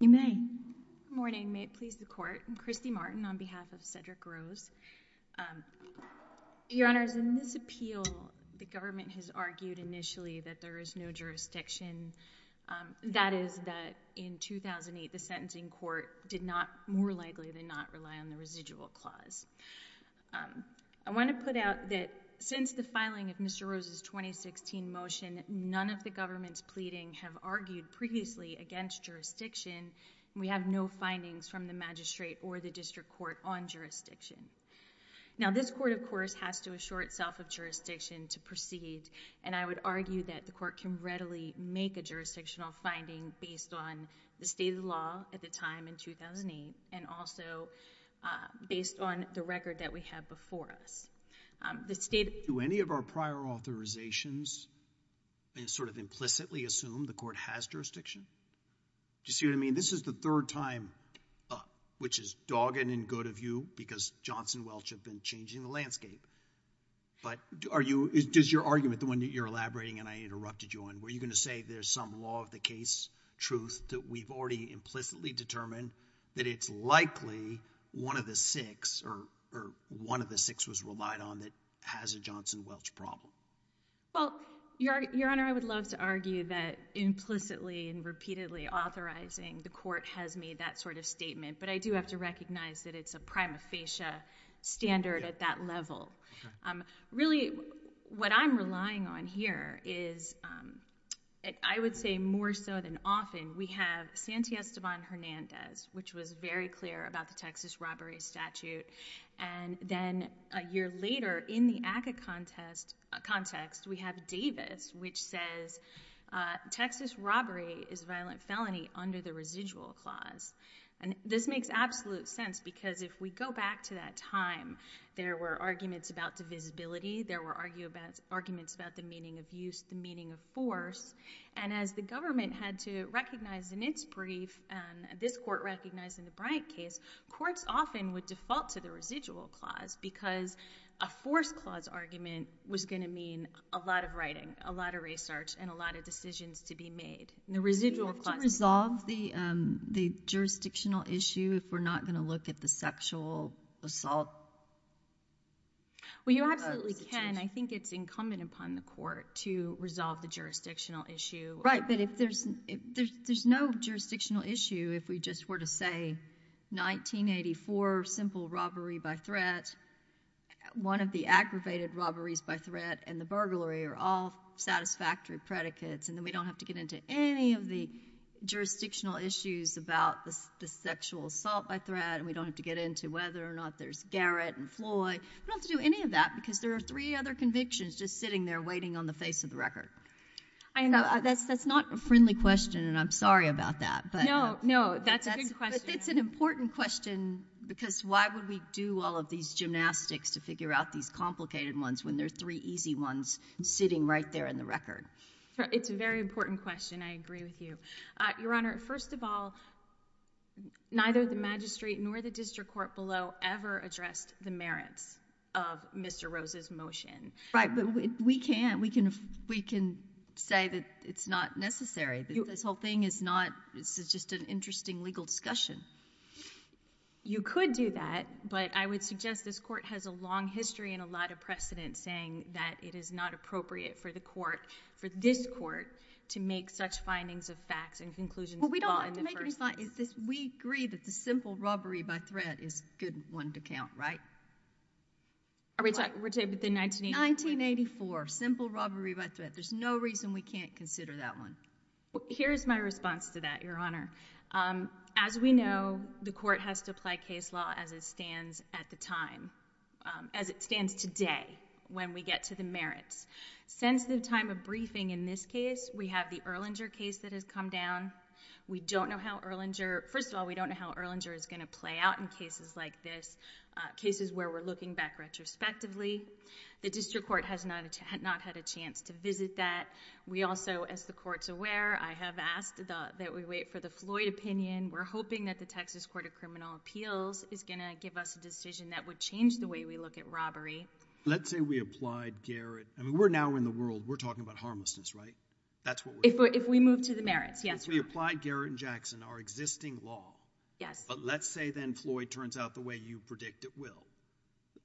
Good morning. May it please the court. I'm Christy Martin on behalf of Cedric Rose. Your Honors, in this appeal, the government has argued initially that there is no jurisdiction. That is, that in 2008, the sentencing court did not, more likely than not, rely on the courts. I want to put out that since the filing of Mr. Rose's 2016 motion, none of the government's pleading have argued previously against jurisdiction, and we have no findings from the magistrate or the district court on jurisdiction. Now, this court, of course, has to assure itself of jurisdiction to proceed, and I would argue that the court can readily make a jurisdictional finding based on the state of the law at the time, in 2008, and also based on the record that we have before us. Do any of our prior authorizations sort of implicitly assume the court has jurisdiction? Do you see what I mean? This is the third time, which is dogging in good of you because Johnson Welch had been changing the landscape, but does your argument, the one that you're elaborating and I interrupted you on, were you going to say there's some law of the case, truth, that we've already implicitly determined that it's likely one of the six, or one of the six was relied on that has a Johnson Welch problem? Well, Your Honor, I would love to argue that implicitly and repeatedly authorizing the court has made that sort of statement, but I do have to recognize that it's a prima facie standard at that level. Really, what I'm relying on here is, I would say more so than often, we have Sante Esteban Hernandez, which was very clear about the Texas robbery statute, and then a year later, in the ACCA context, we have Davis, which says Texas robbery is a violent felony under the residual clause, and this makes absolute sense because if we go back to that time, there were arguments about divisibility, there were arguments about the meaning of use, the meaning of force, and as the government had to recognize in its brief, and this court recognized in the Bryant case, courts often would default to the residual clause because a force clause argument was going to mean a lot of writing, a lot of research, and a lot of decisions to be made. Would you resolve the jurisdictional issue if we're not going to look at the sexual assault? Well, you absolutely can. I think it's incumbent upon the court to resolve the jurisdictional issue. Right, but if there's no jurisdictional issue, if we just were to say, 1984, simple robbery by threat, one of the aggravated robberies by threat, and the burglary are all satisfactory predicates, and then we don't have to get into any of the jurisdictional issues about the sexual assault by threat, and we don't have to get into whether or not there's Garrett and Floyd, we don't have to do any of that because there are three other convictions just sitting there waiting on the face of the record. That's not a friendly question, and I'm sorry about that. No, no, that's a good question. It's an important question because why would we do all of these gymnastics to figure out these complicated ones when there are three easy ones sitting right there on the record? It's a very important question. I agree with you. Your Honor, first of all, neither the magistrate nor the district court below ever addressed the merits of Mr. Rose's motion. Right, but we can say that it's not necessary, that this whole thing is not, this is just an interesting legal discussion. You could do that, but I would suggest this court has a long history and a lot of precedent saying that it is not appropriate for the court, for this court, to make such findings of facts and conclusions of the law in the first place. We agree that the simple robbery by threat is a good one to count, right? 1984, simple robbery by threat, there's no reason we can't consider that one. Here's my response to that, Your Honor. As we know, the court has to apply case law as it stands at the time, as it stands today when we get to the merits. Since the time of briefing in this case, we have the Erlanger case that has come down. We don't know how Erlanger, first of all, we don't know how Erlanger is going to play out in cases like this, cases where we're looking back retrospectively. The district court has not had a chance to visit that. We also, as the court's aware, I have asked that we wait for the Floyd opinion. We're hoping that the Texas Court of Criminal Appeals is going to give us a decision that would change the way we look at robbery. Let's say we applied Garrett, I mean, we're now in the world, we're talking about harmlessness, right? That's what we're doing. If we move to the merits, yes. If we applied Garrett and Jackson, our existing law, but let's say then Floyd turns out the way you predict it will,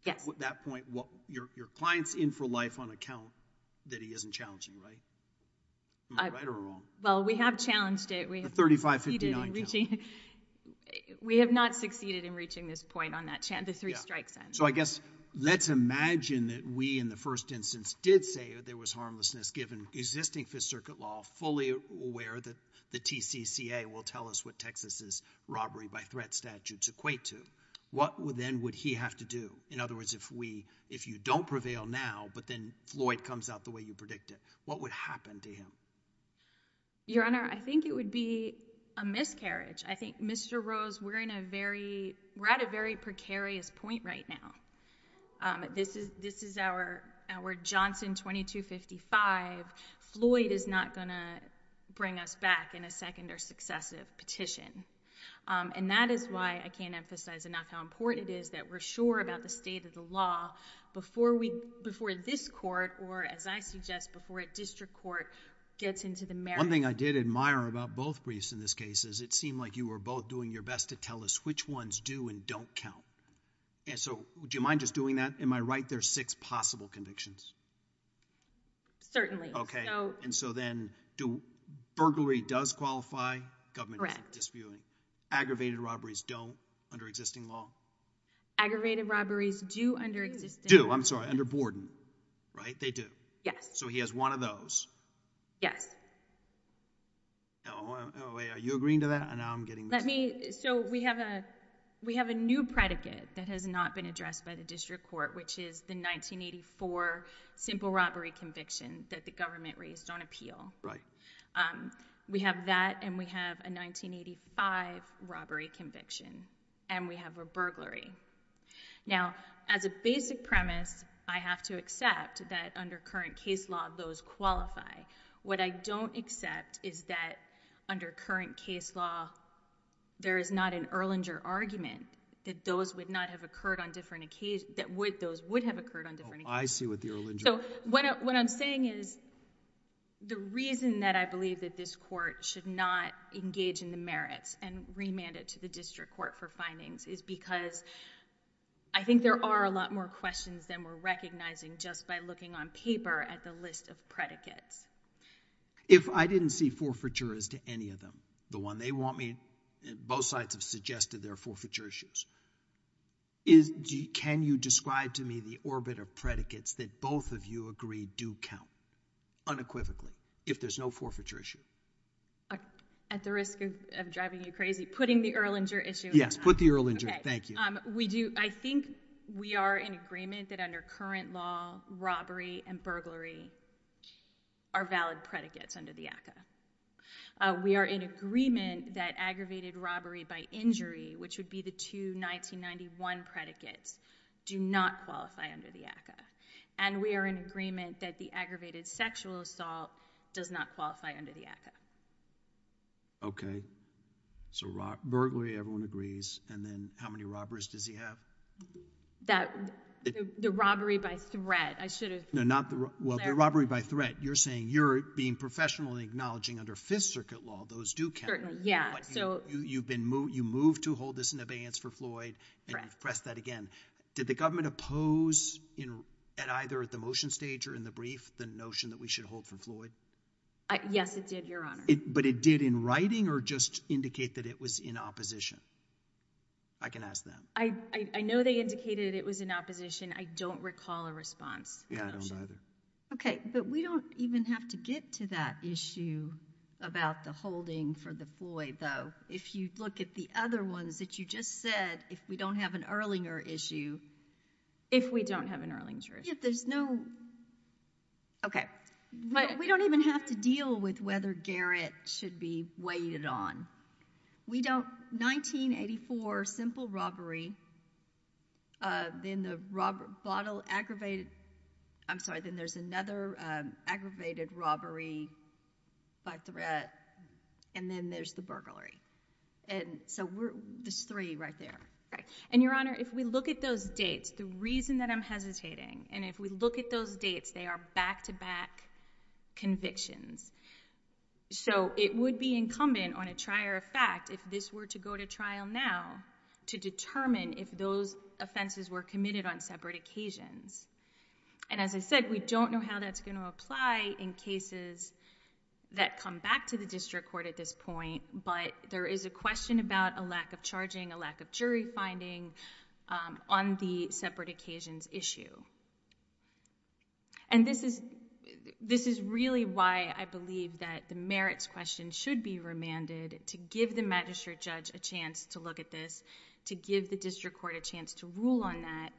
at that point, your client's in for life on account that he isn't challenging, right? Am I right or wrong? Well, we have challenged it. The 35-59 challenge. We have not succeeded in reaching this point on that, the three strikes end. So I guess let's imagine that we, in the first instance, did say there was harmlessness given existing Fifth Circuit law, fully aware that the TCCA will tell us what Texas's robbery by threat statutes equate to. What then would he have to do? In other words, if you don't prevail now, but then Floyd comes out the way you predicted, what would happen to him? Your Honor, I think it would be a miscarriage. I think Mr. Rose, we're at a very precarious point right now. This is our Johnson 2255. Floyd is not going to bring us back in a second or successive petition. And that is why I can't emphasize enough how important it is that we're sure about the state of the law before this court, or as I suggest, before a district court gets into the merit... One thing I did admire about both briefs in this case is it seemed like you were both doing your best to tell us which ones do and don't count. And so would you mind just doing that? Am I right there are six possible convictions? Certainly. So... And so then, burglary does qualify? Correct. Disputing. Disputing. Aggravated robberies don't under existing law? Aggravated robberies do under existing... Do. I'm sorry, under Borden, right? They do. Yes. So he has one of those. Yes. Oh, wait. Are you agreeing to that? Now I'm getting... Let me... So we have a new predicate that has not been addressed by the district court, which is the 1984 simple robbery conviction that the government raised on appeal. Right. We have that, and we have a 1985 robbery conviction, and we have a burglary. Now as a basic premise, I have to accept that under current case law, those qualify. What I don't accept is that under current case law, there is not an Erlanger argument that those would not have occurred on different occasions... that those would have occurred on different occasions. Oh, I see what the Erlanger... So what I'm saying is the reason that I believe that this court should not engage in the merits and remand it to the district court for findings is because I think there are a lot more questions than we're recognizing just by looking on paper at the list of predicates. If I didn't see forfeiture as to any of them, the one they want me... both sides have suggested there are forfeiture issues. Can you describe to me the orbit of predicates that both of you agree do count unequivocally if there's no forfeiture issue? At the risk of driving you crazy, putting the Erlanger issue... Yes, put the Erlanger. Okay. Thank you. We do... I think we are in agreement that under current law, robbery and burglary are valid predicates under the ACCA. We are in agreement that aggravated robbery by injury, which would be the two 1991 predicates, do not qualify under the ACCA. And we are in agreement that the aggravated sexual assault does not qualify under the Okay. So burglary, everyone agrees, and then how many robberies does he have? The robbery by threat. I should have... No, not the... Well, the robbery by threat. You're saying you're being professional in acknowledging under Fifth Circuit law those do count. Yeah. So... You moved to hold this in abeyance for Floyd. Correct. And you've pressed that again. Did the government oppose at either the motion stage or in the brief the notion that we should hold for Floyd? Yes, it did, Your Honor. But it did in writing or just indicate that it was in opposition? I can ask them. I know they indicated it was in opposition. I don't recall a response. Yeah. I don't either. Okay. But we don't even have to get to that issue about the holding for the Floyd, though. If you look at the other ones that you just said, if we don't have an Erlinger issue... If we don't have an Erlinger issue. If there's no... Okay. We don't even have to deal with whether Garrett should be weighted on. We don't... And there's another aggravated robbery by threat, and then there's the burglary. So there's three right there. And Your Honor, if we look at those dates, the reason that I'm hesitating, and if we look at those dates, they are back-to-back convictions. So it would be incumbent on a trier of fact if this were to go to trial now to determine if those offenses were committed on separate occasions. And as I said, we don't know how that's going to apply in cases that come back to the district court at this point, but there is a question about a lack of charging, a lack of jury finding on the separate occasions issue. And this is really why I believe that the merits question should be remanded to give the magistrate judge a chance to look at this, to give the district court a chance to rule on that,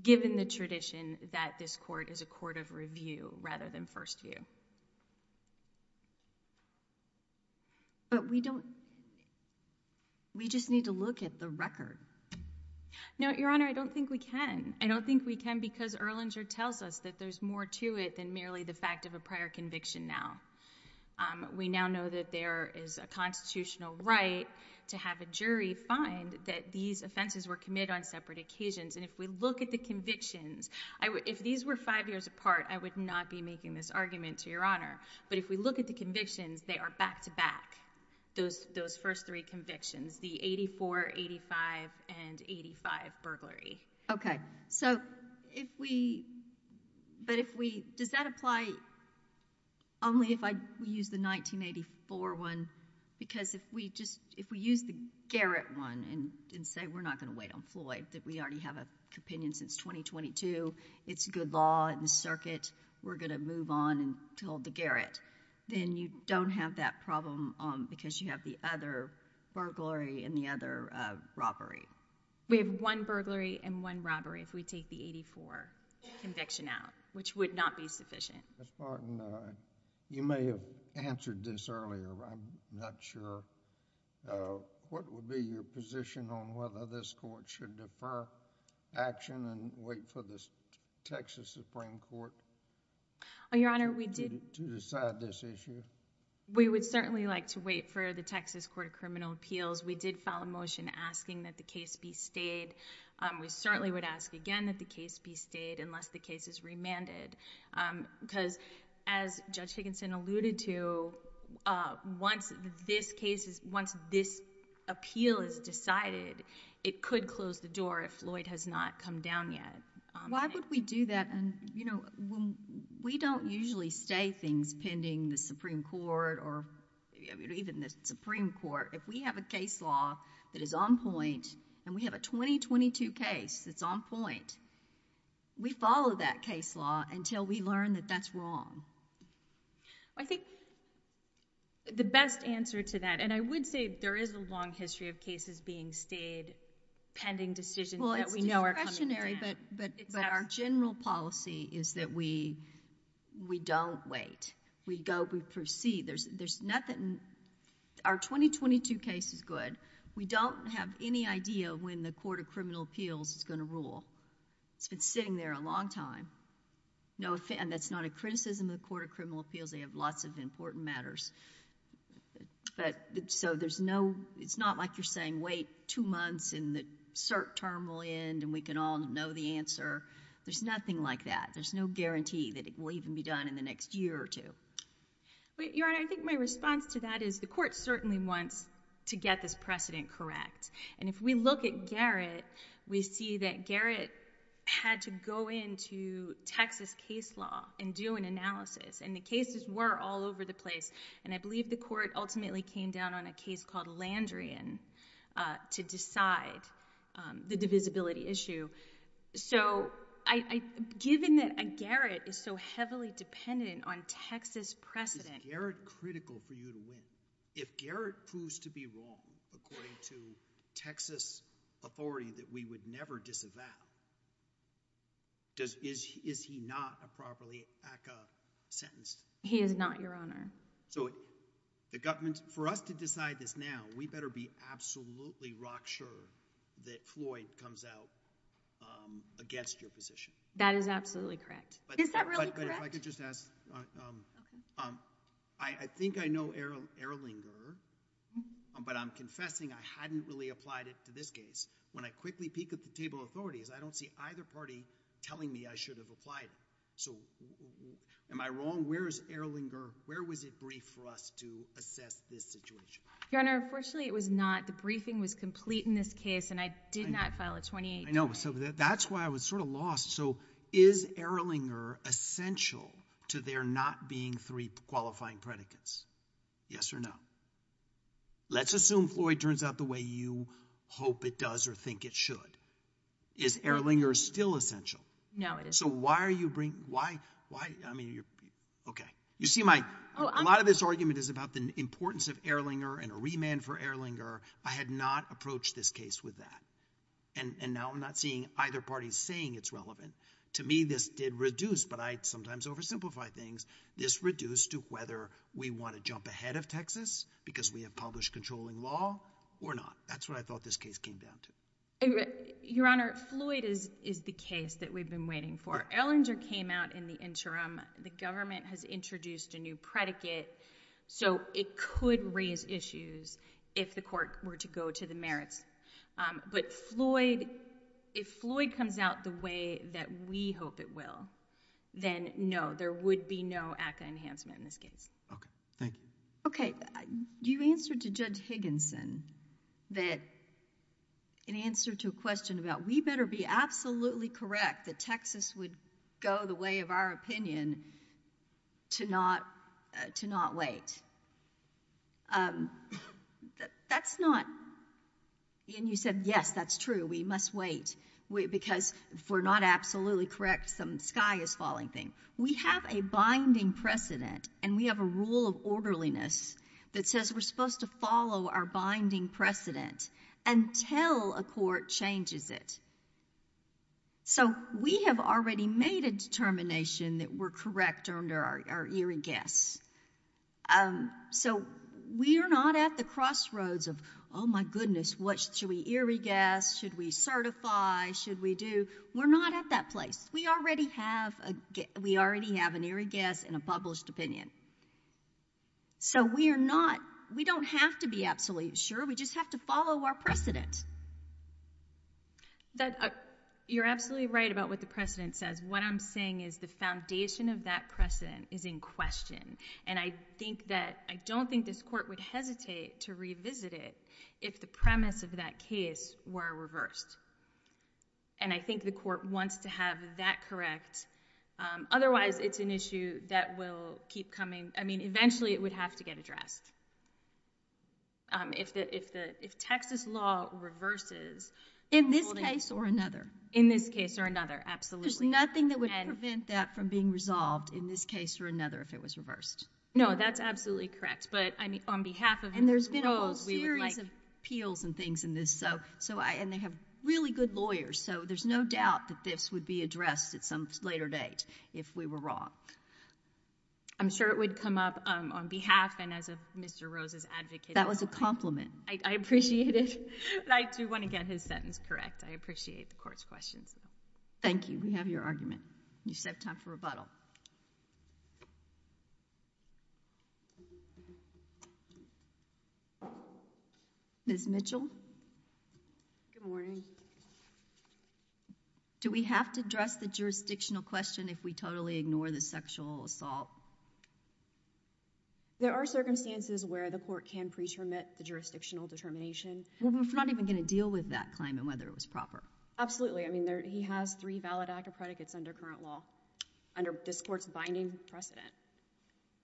given the tradition that this court is a court of review rather than first view. But we don't... We just need to look at the record. No, Your Honor, I don't think we can. I don't think we can because Erlanger tells us that there's more to it than merely the fact of a prior conviction now. We now know that there is a constitutional right to have a jury find that these offenses were committed on separate occasions, and if we look at the convictions... If these were five years apart, I would not be making this argument to Your Honor, but if we look at the convictions, they are back-to-back, those first three convictions, the 84, 85, and 85 burglary. Okay. So if we... But if we... Does that apply only if I use the 1984 one? Because if we just... If we use the Garrett one and say we're not going to wait on Floyd, that we already have an opinion since 2022, it's good law in the circuit, we're going to move on until the Garrett, then you don't have that problem because you have the other burglary and the other robbery. We have one burglary and one robbery if we take the 84 conviction out, which would not be sufficient. Ms. Barton, you may have answered this earlier, but I'm not sure. What would be your position on whether this court should defer action and wait for the Texas Supreme Court... Oh, Your Honor, we did...... to decide this issue? We would certainly like to wait for the Texas Court of Criminal Appeals. We did file a motion asking that the case be stayed. We certainly would ask again that the case be stayed unless the case is remanded because as Judge Higginson alluded to, once this case is... once this appeal is decided, it could close the door if Floyd has not come down yet. Why would we do that? We don't usually stay things pending the Supreme Court or even the Supreme Court. If we have a case law that is on point and we have a 2022 case that's on point, we follow that case law until we learn that that's wrong. I think the best answer to that, and I would say there is a long history of cases being stayed pending decisions that we know are coming down. Well, it's discretionary, but our general policy is that we don't wait. We go, we proceed. There's nothing... our 2022 case is good. We don't have any idea when the Court of Criminal Appeals is going to rule. It's been sitting there a long time. That's not a criticism of the Court of Criminal Appeals. They have lots of important matters. It's not like you're saying, wait two months and the cert term will end and we can all know the answer. There's nothing like that. There's no guarantee that it will even be done in the next year or two. Your Honor, I think my response to that is the court certainly wants to get this precedent correct. If we look at Garrett, we see that Garrett had to go into Texas case law and do an analysis. The cases were all over the place and I believe the court ultimately came down on a case called Landrian to decide the divisibility issue. So given that Garrett is so heavily dependent on Texas precedent... Is Garrett critical for you to win? If Garrett proves to be wrong according to Texas authority that we would never disavow, is he not a properly ACCA sentence? He is not, Your Honor. So the government... for us to decide this now, we better be absolutely rock sure that Floyd comes out against your position. That is absolutely correct. Is that really correct? But if I could just ask, I think I know Ehrlinger, but I'm confessing I hadn't really applied it to this case. When I quickly peek at the table of authorities, I don't see either party telling me I should have applied it. So am I wrong? Where is Ehrlinger? Where was it briefed for us to assess this situation? Your Honor, unfortunately it was not. The briefing was complete in this case, and I did not file a 28-point... I know. So that's why I was sort of lost. So is Ehrlinger essential to there not being three qualifying predicates, yes or no? Let's assume Floyd turns out the way you hope it does or think it should. Is Ehrlinger still essential? No, it isn't. So why are you bringing... why... I mean, you're... okay. You see my... a lot of this argument is about the importance of Ehrlinger and a remand for Ehrlinger. I had not approached this case with that, and now I'm not seeing either party saying it's relevant. To me, this did reduce, but I sometimes oversimplify things, this reduced to whether we want to jump ahead of Texas because we have published controlling law or not. That's what I thought this case came down to. Your Honor, Floyd is the case that we've been waiting for. Ehrlinger came out in the interim. The government has introduced a new predicate, so it could raise issues if the court were to go to the merits, but Floyd... if Floyd comes out the way that we hope it will, then no, there would be no ACCA enhancement in this case. Okay. Thank you. Okay. You answered to Judge Higginson that... in answer to a question about we better be absolutely correct that Texas would go the way of our opinion to not wait. That's not... and you said, yes, that's true. We must wait because if we're not absolutely correct, some sky is falling thing. We have a binding precedent, and we have a rule of orderliness that says we're supposed to follow our binding precedent until a court changes it. So we have already made a determination that we're correct under our eerie guess. So we are not at the crossroads of, oh, my goodness, should we eerie guess? Should we certify? Should we do... we're not at that place. We already have an eerie guess and a published opinion. So we are not... we don't have to be absolutely sure. We just have to follow our precedent. You're absolutely right about what the precedent says. What I'm saying is the foundation of that precedent is in question, and I think that... I don't think this court would hesitate to revisit it if the premise of that case were reversed, and I think the court wants to have that correct, otherwise it's an issue that will keep coming... I mean, eventually it would have to get addressed. If Texas law reverses... In this case or another? In this case or another. Absolutely. There's nothing that would prevent that from being resolved in this case or another if it was reversed? No, that's absolutely correct, but on behalf of... And there's been a whole series of appeals and things in this, and they have really good lawyers, so there's no doubt that this would be addressed at some later date if we were wrong. I'm sure it would come up on behalf and as a Mr. Rose's advocate. That was a compliment. I appreciate it. I do want to get his sentence correct. I appreciate the court's questions. Thank you. We have your argument. You just have time for rebuttal. Ms. Mitchell? Good morning. Do we have to address the jurisdictional question if we totally ignore the sexual assault? There are circumstances where the court can pre-termit the jurisdictional determination. We're not even going to deal with that claim and whether it was proper. Absolutely. I mean, he has three valid ACCA predicates under current law, under this court's binding precedent.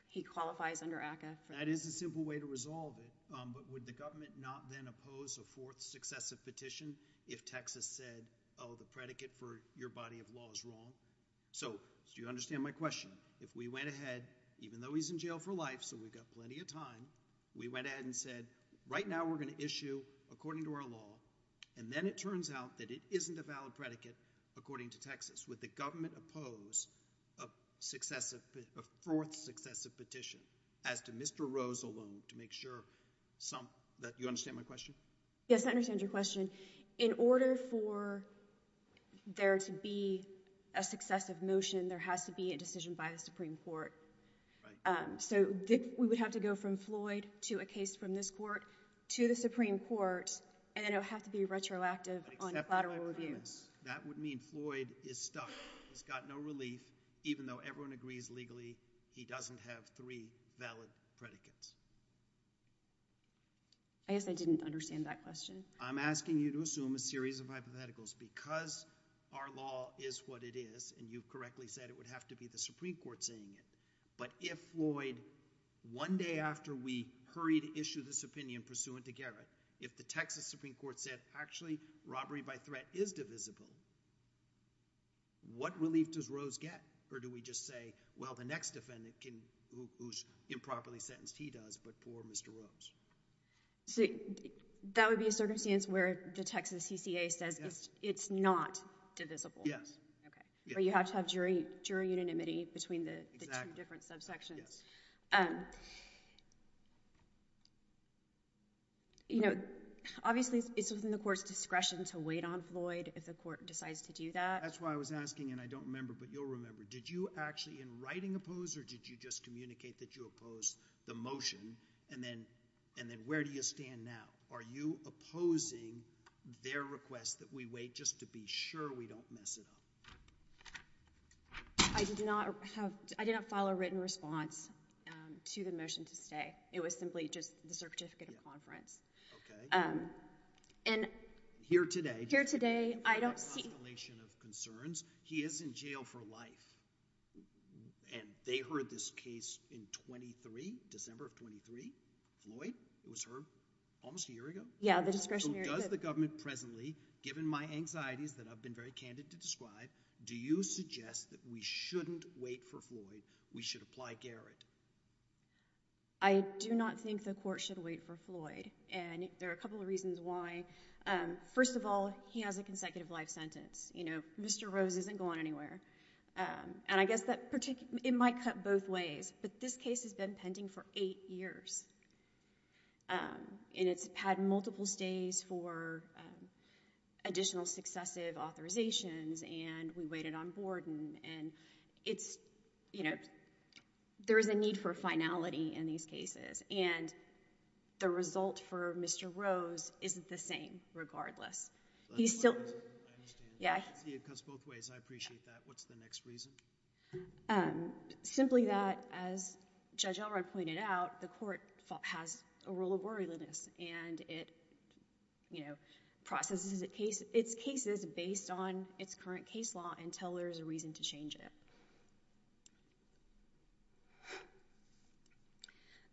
He qualifies under ACCA. That is a simple way to resolve it, but would the government not then oppose a fourth successive petition if Texas said, oh, the predicate for your body of law is wrong? So do you understand my question? If we went ahead, even though he's in jail for life, so we've got plenty of time, we went ahead and said, right now we're going to issue according to our law, and then it turns out that it isn't a valid predicate according to Texas, would the government oppose a fourth successive petition as to Mr. Rose alone to make sure some... you understand my question? Yes. I understand your question. In order for there to be a successive motion, there has to be a decision by the Supreme Court. Right. So we would have to go from Floyd to a case from this court to the Supreme Court, and then it would have to be retroactive on collateral reviews. That would mean Floyd is stuck, he's got no relief, even though everyone agrees legally he doesn't have three valid predicates. I guess I didn't understand that question. I'm asking you to assume a series of hypotheticals. Because our law is what it is, and you correctly said it would have to be the Supreme Court saying it, but if Floyd, one day after we hurry to issue this opinion pursuant to Garrett, if the Texas Supreme Court said, actually, robbery by threat is divisible, what relief does Rose get? Or do we just say, well, the next defendant, who's improperly sentenced, he does, but poor Mr. Rose. That would be a circumstance where the Texas CCA says it's not divisible. Yes. Okay. Or you have to have jury unanimity between the two different subsections. Obviously, it's within the court's discretion to wait on Floyd if the court decides to do that. That's why I was asking, and I don't remember, but you'll remember, did you actually in writing oppose, or did you just communicate that you oppose the motion, and then where do you stand now? Are you opposing their request that we wait just to be sure we don't mess it up? I did not file a written response to the motion to stay. It was simply just the certificate of conference. Here today. Here today. I don't see... I have a constellation of concerns. He is in jail for life, and they heard this case in 23, December of 23, Floyd was heard almost a year ago. Yeah, the discretionary... So does the government presently, given my anxieties that I've been very candid to describe, do you suggest that we shouldn't wait for Floyd, we should apply Garrett? I do not think the court should wait for Floyd, and there are a couple of reasons why. First of all, he has a consecutive life sentence. Mr. Rose isn't going anywhere, and I guess it might cut both ways, but this case has been pending for eight years, and it's had multiple stays for additional successive authorizations, and we waited on Borden, and there is a need for finality in these cases, and the result for Mr. Rose isn't the same regardless. He's still... I understand. Yeah. It cuts both ways. I appreciate that. What's the next reason? Simply that, as Judge Elrod pointed out, the court has a rule of worryliness, and it processes its cases based on its current case law until there's a reason to change it.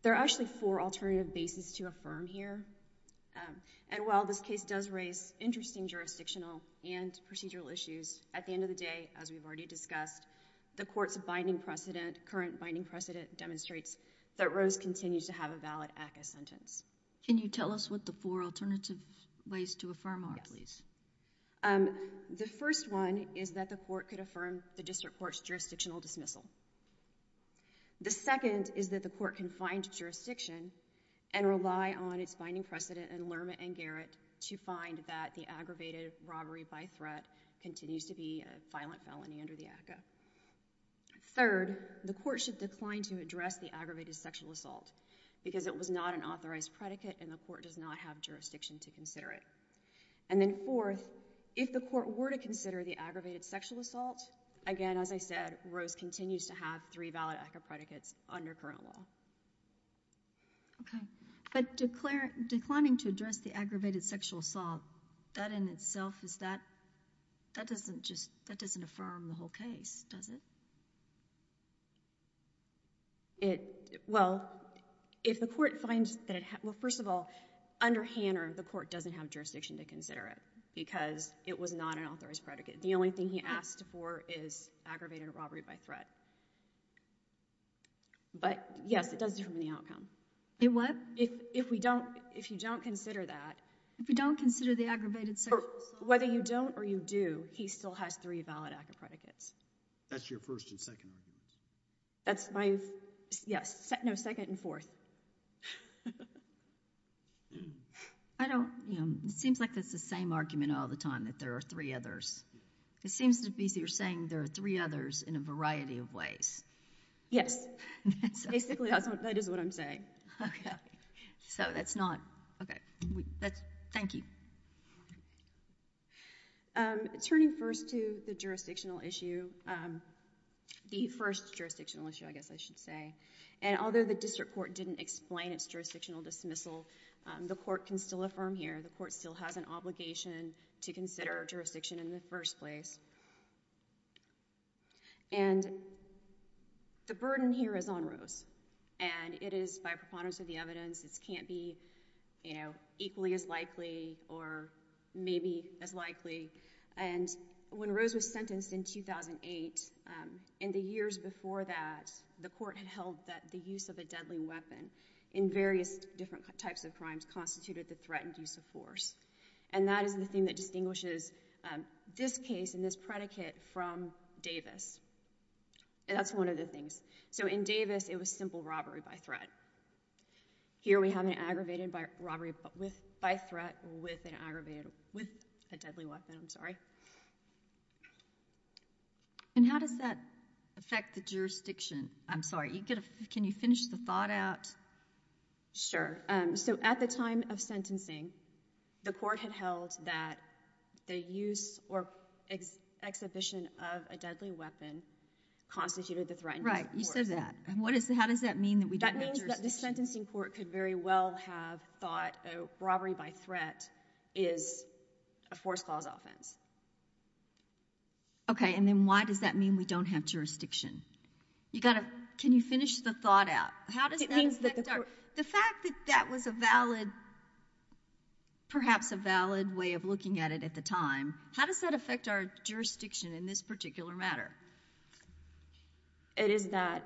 There are actually four alternative bases to affirm here, and while this case does raise interesting jurisdictional and procedural issues, at the end of the day, as we've already discussed, the court's binding precedent, current binding precedent, demonstrates that Rose continues to have a valid ACCA sentence. Can you tell us what the four alternative ways to affirm are, please? The first one is that the court could affirm the district court's jurisdictional dismissal. The second is that the court can find jurisdiction and rely on its binding precedent and Lerma and Garrett to find that the aggravated robbery by threat continues to be a violent felony under the ACCA. Third, the court should decline to address the aggravated sexual assault because it was not an authorized predicate, and the court does not have jurisdiction to consider it. And then fourth, if the court were to consider the aggravated sexual assault, again, as I said, Rose continues to have three valid ACCA predicates under current law. Okay. But declining to address the aggravated sexual assault, that in itself is that, that doesn't just, that doesn't affirm the whole case, does it? It, well, if the court finds that it, well, first of all, under Hanner, the court doesn't have jurisdiction to consider it because it was not an authorized predicate. The only thing he asked for is aggravated robbery by threat. But yes, it does determine the outcome. It what? If we don't, if you don't consider that. If we don't consider the aggravated sexual assault. Whether you don't or you do, he still has three valid ACCA predicates. That's your first and second argument? That's my, yes, no, second and fourth. I don't, you know, it seems like that's the same argument all the time, that there are three others. It seems to be that you're saying there are three others in a variety of ways. Yes. Basically, that's what, that is what I'm saying. Okay. So that's not, okay, that's, thank you. Turning first to the jurisdictional issue, the first jurisdictional issue, I guess I should say, and although the district court didn't explain its jurisdictional dismissal, the court can still affirm here. The court still has an obligation to consider jurisdiction in the first place. And the burden here is on Rose, and it is by preponderance of the evidence, it can't be, you know, equally as likely or maybe as likely. And when Rose was sentenced in 2008, in the years before that, the court had held that the use of a deadly weapon in various different types of crimes constituted the threatened use of force. And that is the thing that distinguishes this case and this predicate from Davis. That's one of the things. So in Davis, it was simple robbery by threat. Here, we have an aggravated robbery by threat with an aggravated, with a deadly weapon, I'm sorry. And how does that affect the jurisdiction? I'm sorry, can you finish the thought out? Sure. So at the time of sentencing, the court had held that the use or exhibition of a deadly weapon constituted the threatened use of force. Right, you said that. And what is, how does that mean that we don't have jurisdiction? That means that the sentencing court could very well have thought a robbery by threat is a force clause offense. Okay, and then why does that mean we don't have jurisdiction? You gotta, can you finish the thought out? How does that affect our, the fact that that was a valid, perhaps a valid way of looking at it at the time, how does that affect our jurisdiction in this particular matter? It is that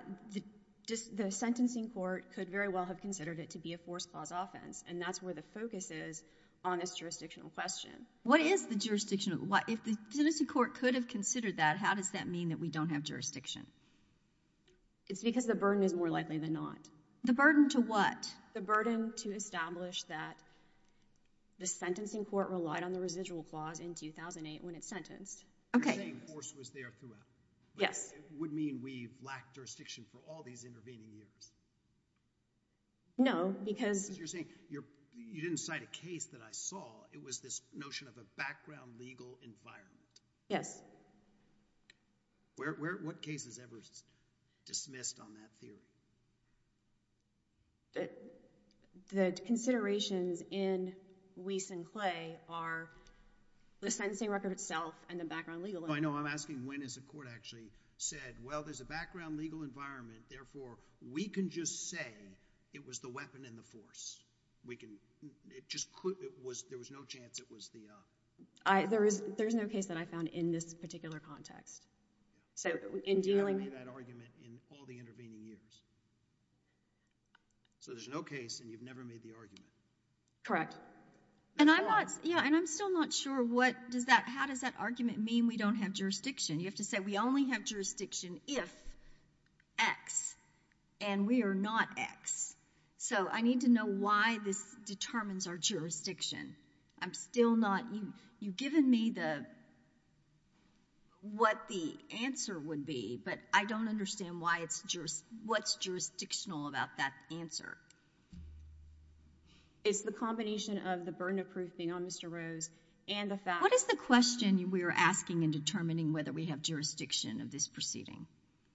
the sentencing court could very well have considered it to be a force clause offense, and that's where the focus is on this jurisdictional question. What is the jurisdictional, if the sentencing court could have considered that, how does that mean that we don't have jurisdiction? It's because the burden is more likely than not. The burden to what? The burden to establish that the sentencing court relied on the residual clause in 2008 when it's sentenced. Okay. You're saying force was there throughout. Yes. But it would mean we lack jurisdiction for all these intervening years. No, because. Because you're saying, you didn't cite a case that I saw, it was this notion of a background legal environment. Yes. What case is ever dismissed on that theory? The considerations in Weiss and Clay are the sentencing record itself and the background legal environment. I know. I'm asking when is the court actually said, well, there's a background legal environment, therefore, we can just say it was the weapon and the force. We can, it just, there was no chance it was the. There's no case that I found in this particular context. So in dealing. You haven't made that argument in all the intervening years. So there's no case and you've never made the argument. Correct. And I'm not, yeah, and I'm still not sure what does that, how does that argument mean we don't have jurisdiction? You have to say we only have jurisdiction if X and we are not X. So I need to know why this determines our jurisdiction. I'm still not, you've given me the, what the answer would be, but I don't understand why it's, what's jurisdictional about that answer. It's the combination of the burden of proof thing on Mr. Rose and the fact. What is the question we were asking in determining whether we have jurisdiction of this proceeding?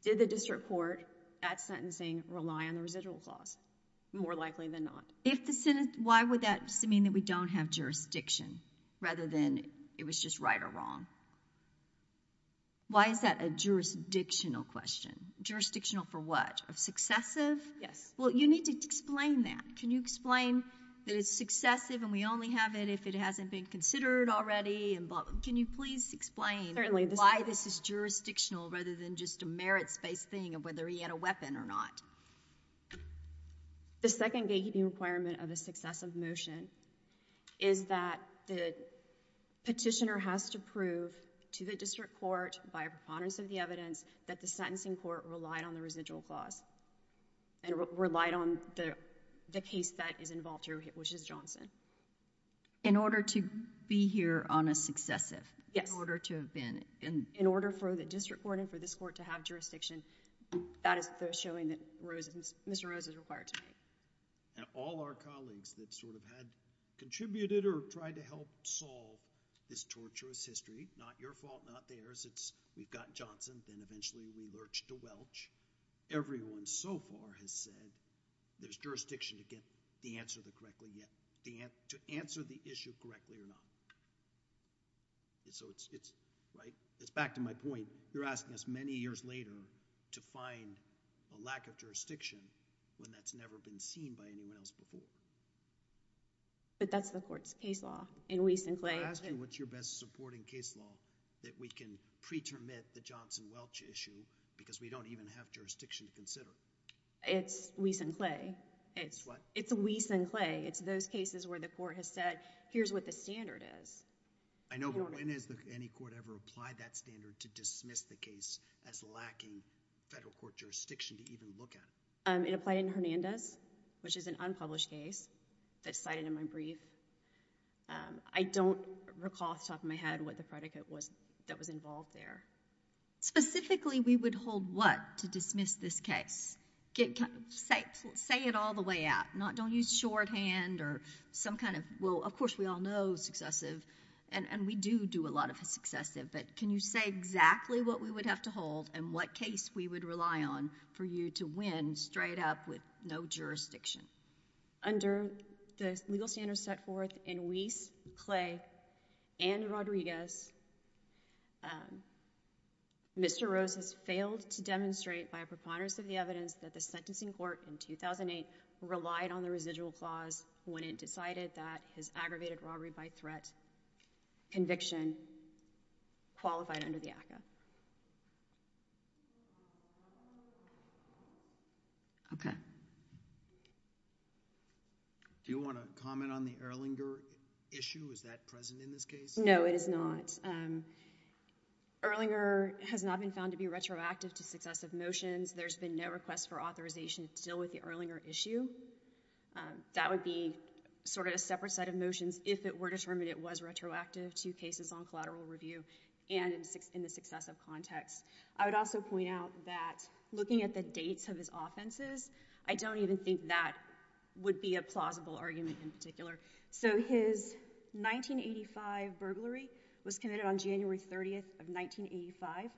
Did the district court at sentencing rely on the residual clause? More likely than not. If the Senate, why would that mean that we don't have jurisdiction rather than it was just right or wrong? Why is that a jurisdictional question? Jurisdictional for what? Of successive? Yes. Well, you need to explain that. Can you explain that it's successive and we only have it if it hasn't been considered already and, can you please explain why this is jurisdictional rather than just a merits based thing of whether he had a weapon or not? The second gatekeeping requirement of the successive motion is that the petitioner has to prove to the district court by a preponderance of the evidence that the sentencing court relied on the residual clause and relied on the case that is involved here, which is Johnson. In order to be here on a successive? Yes. In order to have been? In order for the district court and for this court to have jurisdiction. And that is the showing that Mr. Rose is required to make. And all our colleagues that sort of had contributed or tried to help solve this torturous history, not your fault, not theirs, it's we've got Johnson, then eventually we lurched to Welch. Everyone so far has said there's jurisdiction to get the answer correctly, yet to answer the issue correctly or not. So it's, right, it's back to my point. You're asking us many years later to find a lack of jurisdiction when that's never been seen by anyone else before. But that's the court's case law in Weiss and Clay. I'm asking what's your best supporting case law that we can pretermit the Johnson-Welch issue because we don't even have jurisdiction to consider. It's Weiss and Clay. It's what? It's Weiss and Clay. It's those cases where the court has said, here's what the standard is. I know, but when has any court ever applied that standard to dismiss the case as lacking federal court jurisdiction to even look at? It applied in Hernandez, which is an unpublished case that's cited in my brief. I don't recall off the top of my head what the predicate was that was involved there. Specifically, we would hold what to dismiss this case? Say it all the way out. Don't use shorthand or some kind of... well, of course, we all know successive. We do do a lot of successive, but can you say exactly what we would have to hold and what case we would rely on for you to win straight up with no jurisdiction? Under the legal standards set forth in Weiss, Clay, and Rodriguez, Mr. Rose has failed to demonstrate by a preponderance of the evidence that the sentencing court in 2008 relied on the residual clause when it decided that his aggravated robbery by threat conviction qualified under the ACCA. Okay. Do you want to comment on the Erlinger issue? Is that present in this case? No, it is not. Erlinger has not been found to be retroactive to successive motions. There's been no request for authorization to deal with the Erlinger issue. That would be sort of a separate set of motions if it were determined it was retroactive to cases on collateral review and in the successive context. I would also point out that looking at the dates of his offenses, I don't even think that would be a plausible argument in particular. His 1985 burglary was committed on January 30th of 1985.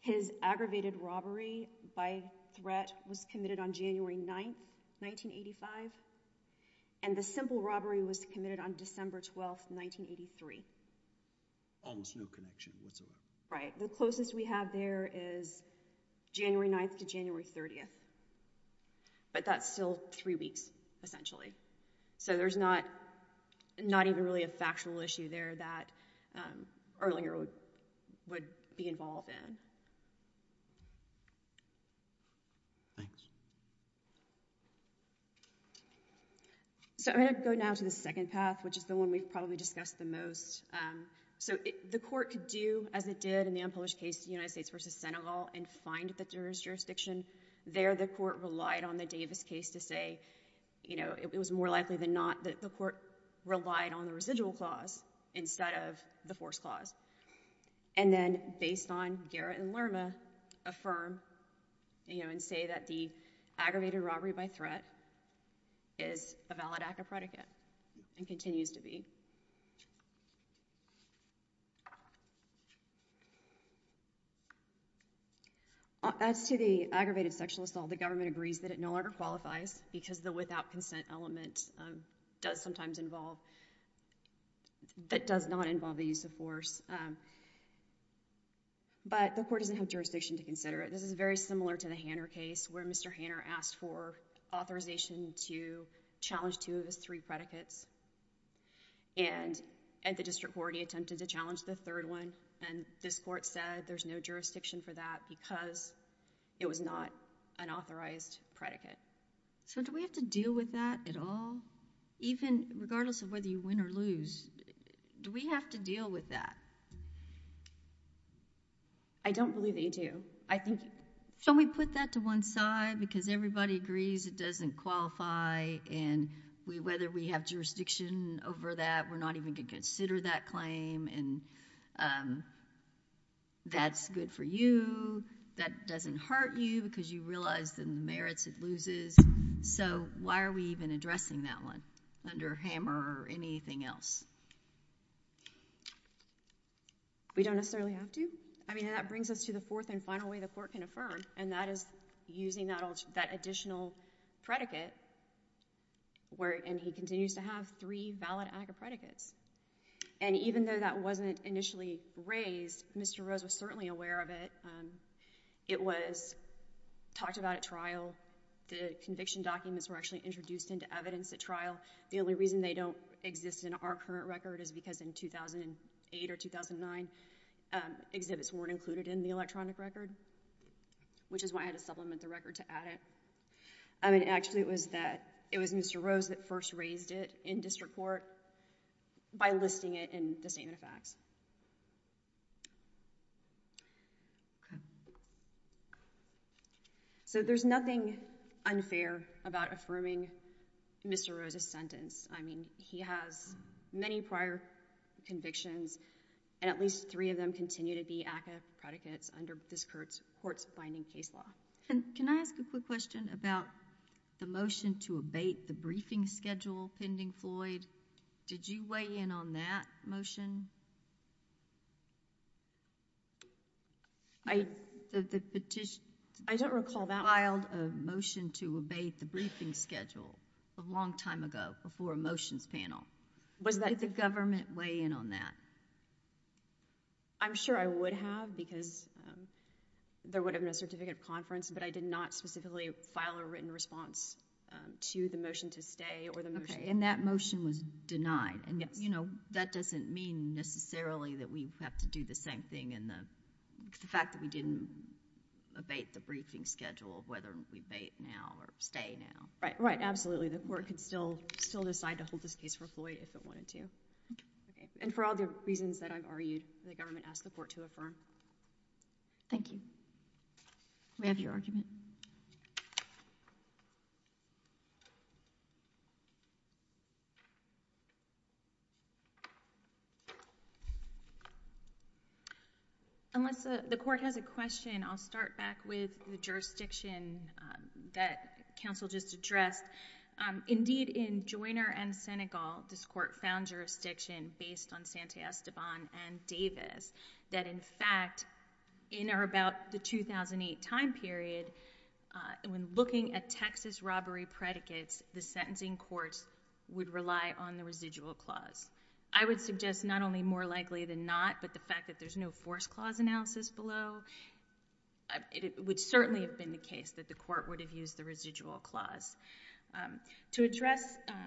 His aggravated robbery by threat was committed on January 9th, 1985. And the simple robbery was committed on December 12th, 1983. Almost no connection whatsoever. Right. The closest we have there is January 9th to January 30th. But that's still three weeks, essentially. There's not even really a factual issue there that Erlinger would be involved in. Thanks. I'm going to go now to the second path, which is the one we've probably discussed the most. The court could do as it did in the unpublished case, United States v. Senegal, and find the jurisdiction. There, the court relied on the Davis case to say it was more likely than not that the court relied on the residual clause instead of the force clause. And then, based on Garrett and Lerma, affirm and say that the aggravated robbery by threat is a valid act of predicate and continues to be. As to the aggravated sexual assault, the government agrees that it no longer qualifies because the without consent element does sometimes involve—that does not involve the use of force. But the court doesn't have jurisdiction to consider it. This is very similar to the Hanner case, where Mr. Hanner asked for authorization to challenge two of his three predicates, and the district court attempted to challenge the third one, and this court said there's no jurisdiction for that because it was not an authorized predicate. Do we have to deal with that at all? Even regardless of whether you win or lose, do we have to deal with that? I don't believe that you do. Can we put that to one side? Because everybody agrees it doesn't qualify, and whether we have jurisdiction over that, we're not even going to consider that claim, and that's good for you. That doesn't hurt you because you realize the merits it loses. So why are we even addressing that one under Hammer or anything else? We don't necessarily have to. I mean, that brings us to the fourth and final way the court can affirm, and that is using that additional predicate, and he continues to have three valid AGA predicates. And even though that wasn't initially raised, Mr. Rose was certainly aware of it. It was talked about at trial. The conviction documents were actually introduced into evidence at trial. The only reason they don't exist in our current record is because in 2008 or 2009, exhibits weren't included in the electronic record, which is why I had to supplement the record to add it. Actually, it was Mr. Rose that first raised it in district court by listing it in the Statement of Facts. So there's nothing unfair about affirming Mr. Rose's sentence. I mean, he has many prior convictions, and at least three of them continue to be AGA predicates under this court's binding case law. And can I ask a quick question about the motion to abate the briefing schedule pending Floyd? Did you weigh in on that motion? I don't recall that. You filed a motion to abate the briefing schedule a long time ago before a motions panel. Did the government weigh in on that? I'm sure I would have because there would have been a certificate of conference, but I did not specifically file a written response to the motion to stay or the motion... And that motion was denied. Yes. But, you know, that doesn't mean necessarily that we have to do the same thing in the fact that we didn't abate the briefing schedule, whether we abate now or stay now. Right. Right. Absolutely. The court can still decide to hold this case for Floyd if it wanted to. Okay. And for all the reasons that I've argued, the government asked the court to Thank you. Do we have your argument? Unless the court has a question, I'll start back with the jurisdiction that counsel just addressed. Indeed, in Joyner and Senegal, this court found jurisdiction based on Sante Esteban and Davis that, in fact, in or about the 2008 time period, when looking at Texas robbery predicates, the sentencing courts would rely on the residual clause. I would suggest not only more likely than not, but the fact that there's no force clause analysis below, it would certainly have been the case that the court would have used the residual clause. To address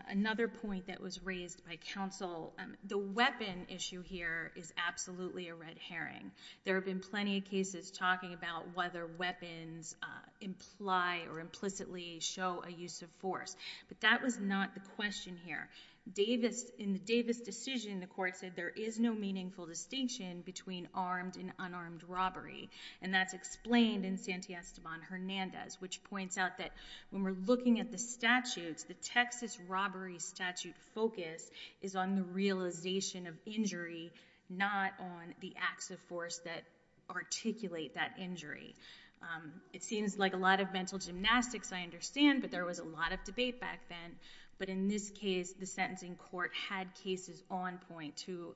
another point that was raised by counsel, the weapon issue here is absolutely a red herring. There have been plenty of cases talking about whether weapons imply or implicitly show a use of force, but that was not the question here. In the Davis decision, the court said there is no meaningful distinction between armed and unarmed robbery, and that's explained in Sante Esteban Hernandez, which points out that when we're looking at the statutes, the Texas robbery statute focus is on the realization of injury, not on the acts of force that articulate that injury. It seems like a lot of mental gymnastics, I understand, but there was a lot of debate back then. In this case, the sentencing court had cases on point to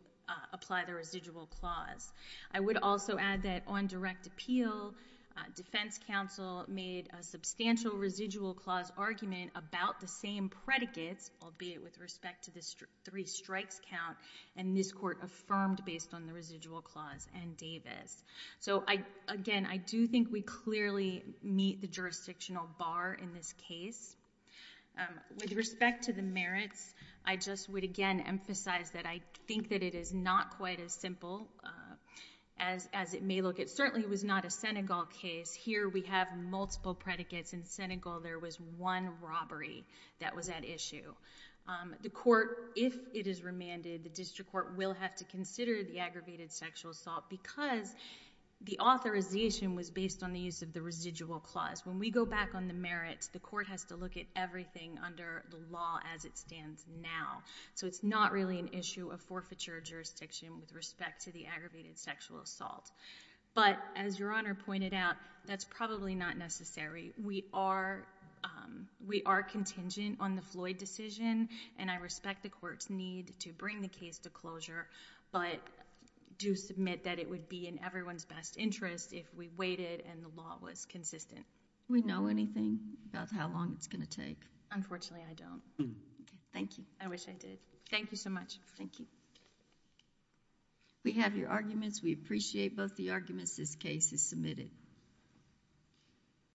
apply the residual clause. I would also add that on direct appeal, defense counsel made a substantial residual clause argument about the same predicates, albeit with respect to the three strikes count, and this court affirmed based on the residual clause and Davis. Again, I do think we clearly meet the jurisdictional bar in this case. With respect to the merits, I just would again emphasize that I think that it is not quite as simple as it may look. It certainly was not a Senegal case. Here, we have multiple predicates. In Senegal, there was one robbery that was at issue. The court, if it is remanded, the district court will have to consider the aggravated sexual assault because the authorization was based on the use of the residual clause. When we go back on the merits, the court has to look at everything under the law as it stands now. It is not really an issue of forfeiture jurisdiction with respect to the aggravated sexual assault. As Your Honor pointed out, that is probably not necessary. We are contingent on the Floyd decision, and I respect the court's need to bring the case to closure, but do submit that it would be in everyone's best interest if we waited and the law was consistent. Do we know anything about how long it is going to take? Unfortunately, I don't. Thank you. I wish I did. Thank you so much. Thank you. We have your arguments. We appreciate both the arguments. This case is submitted.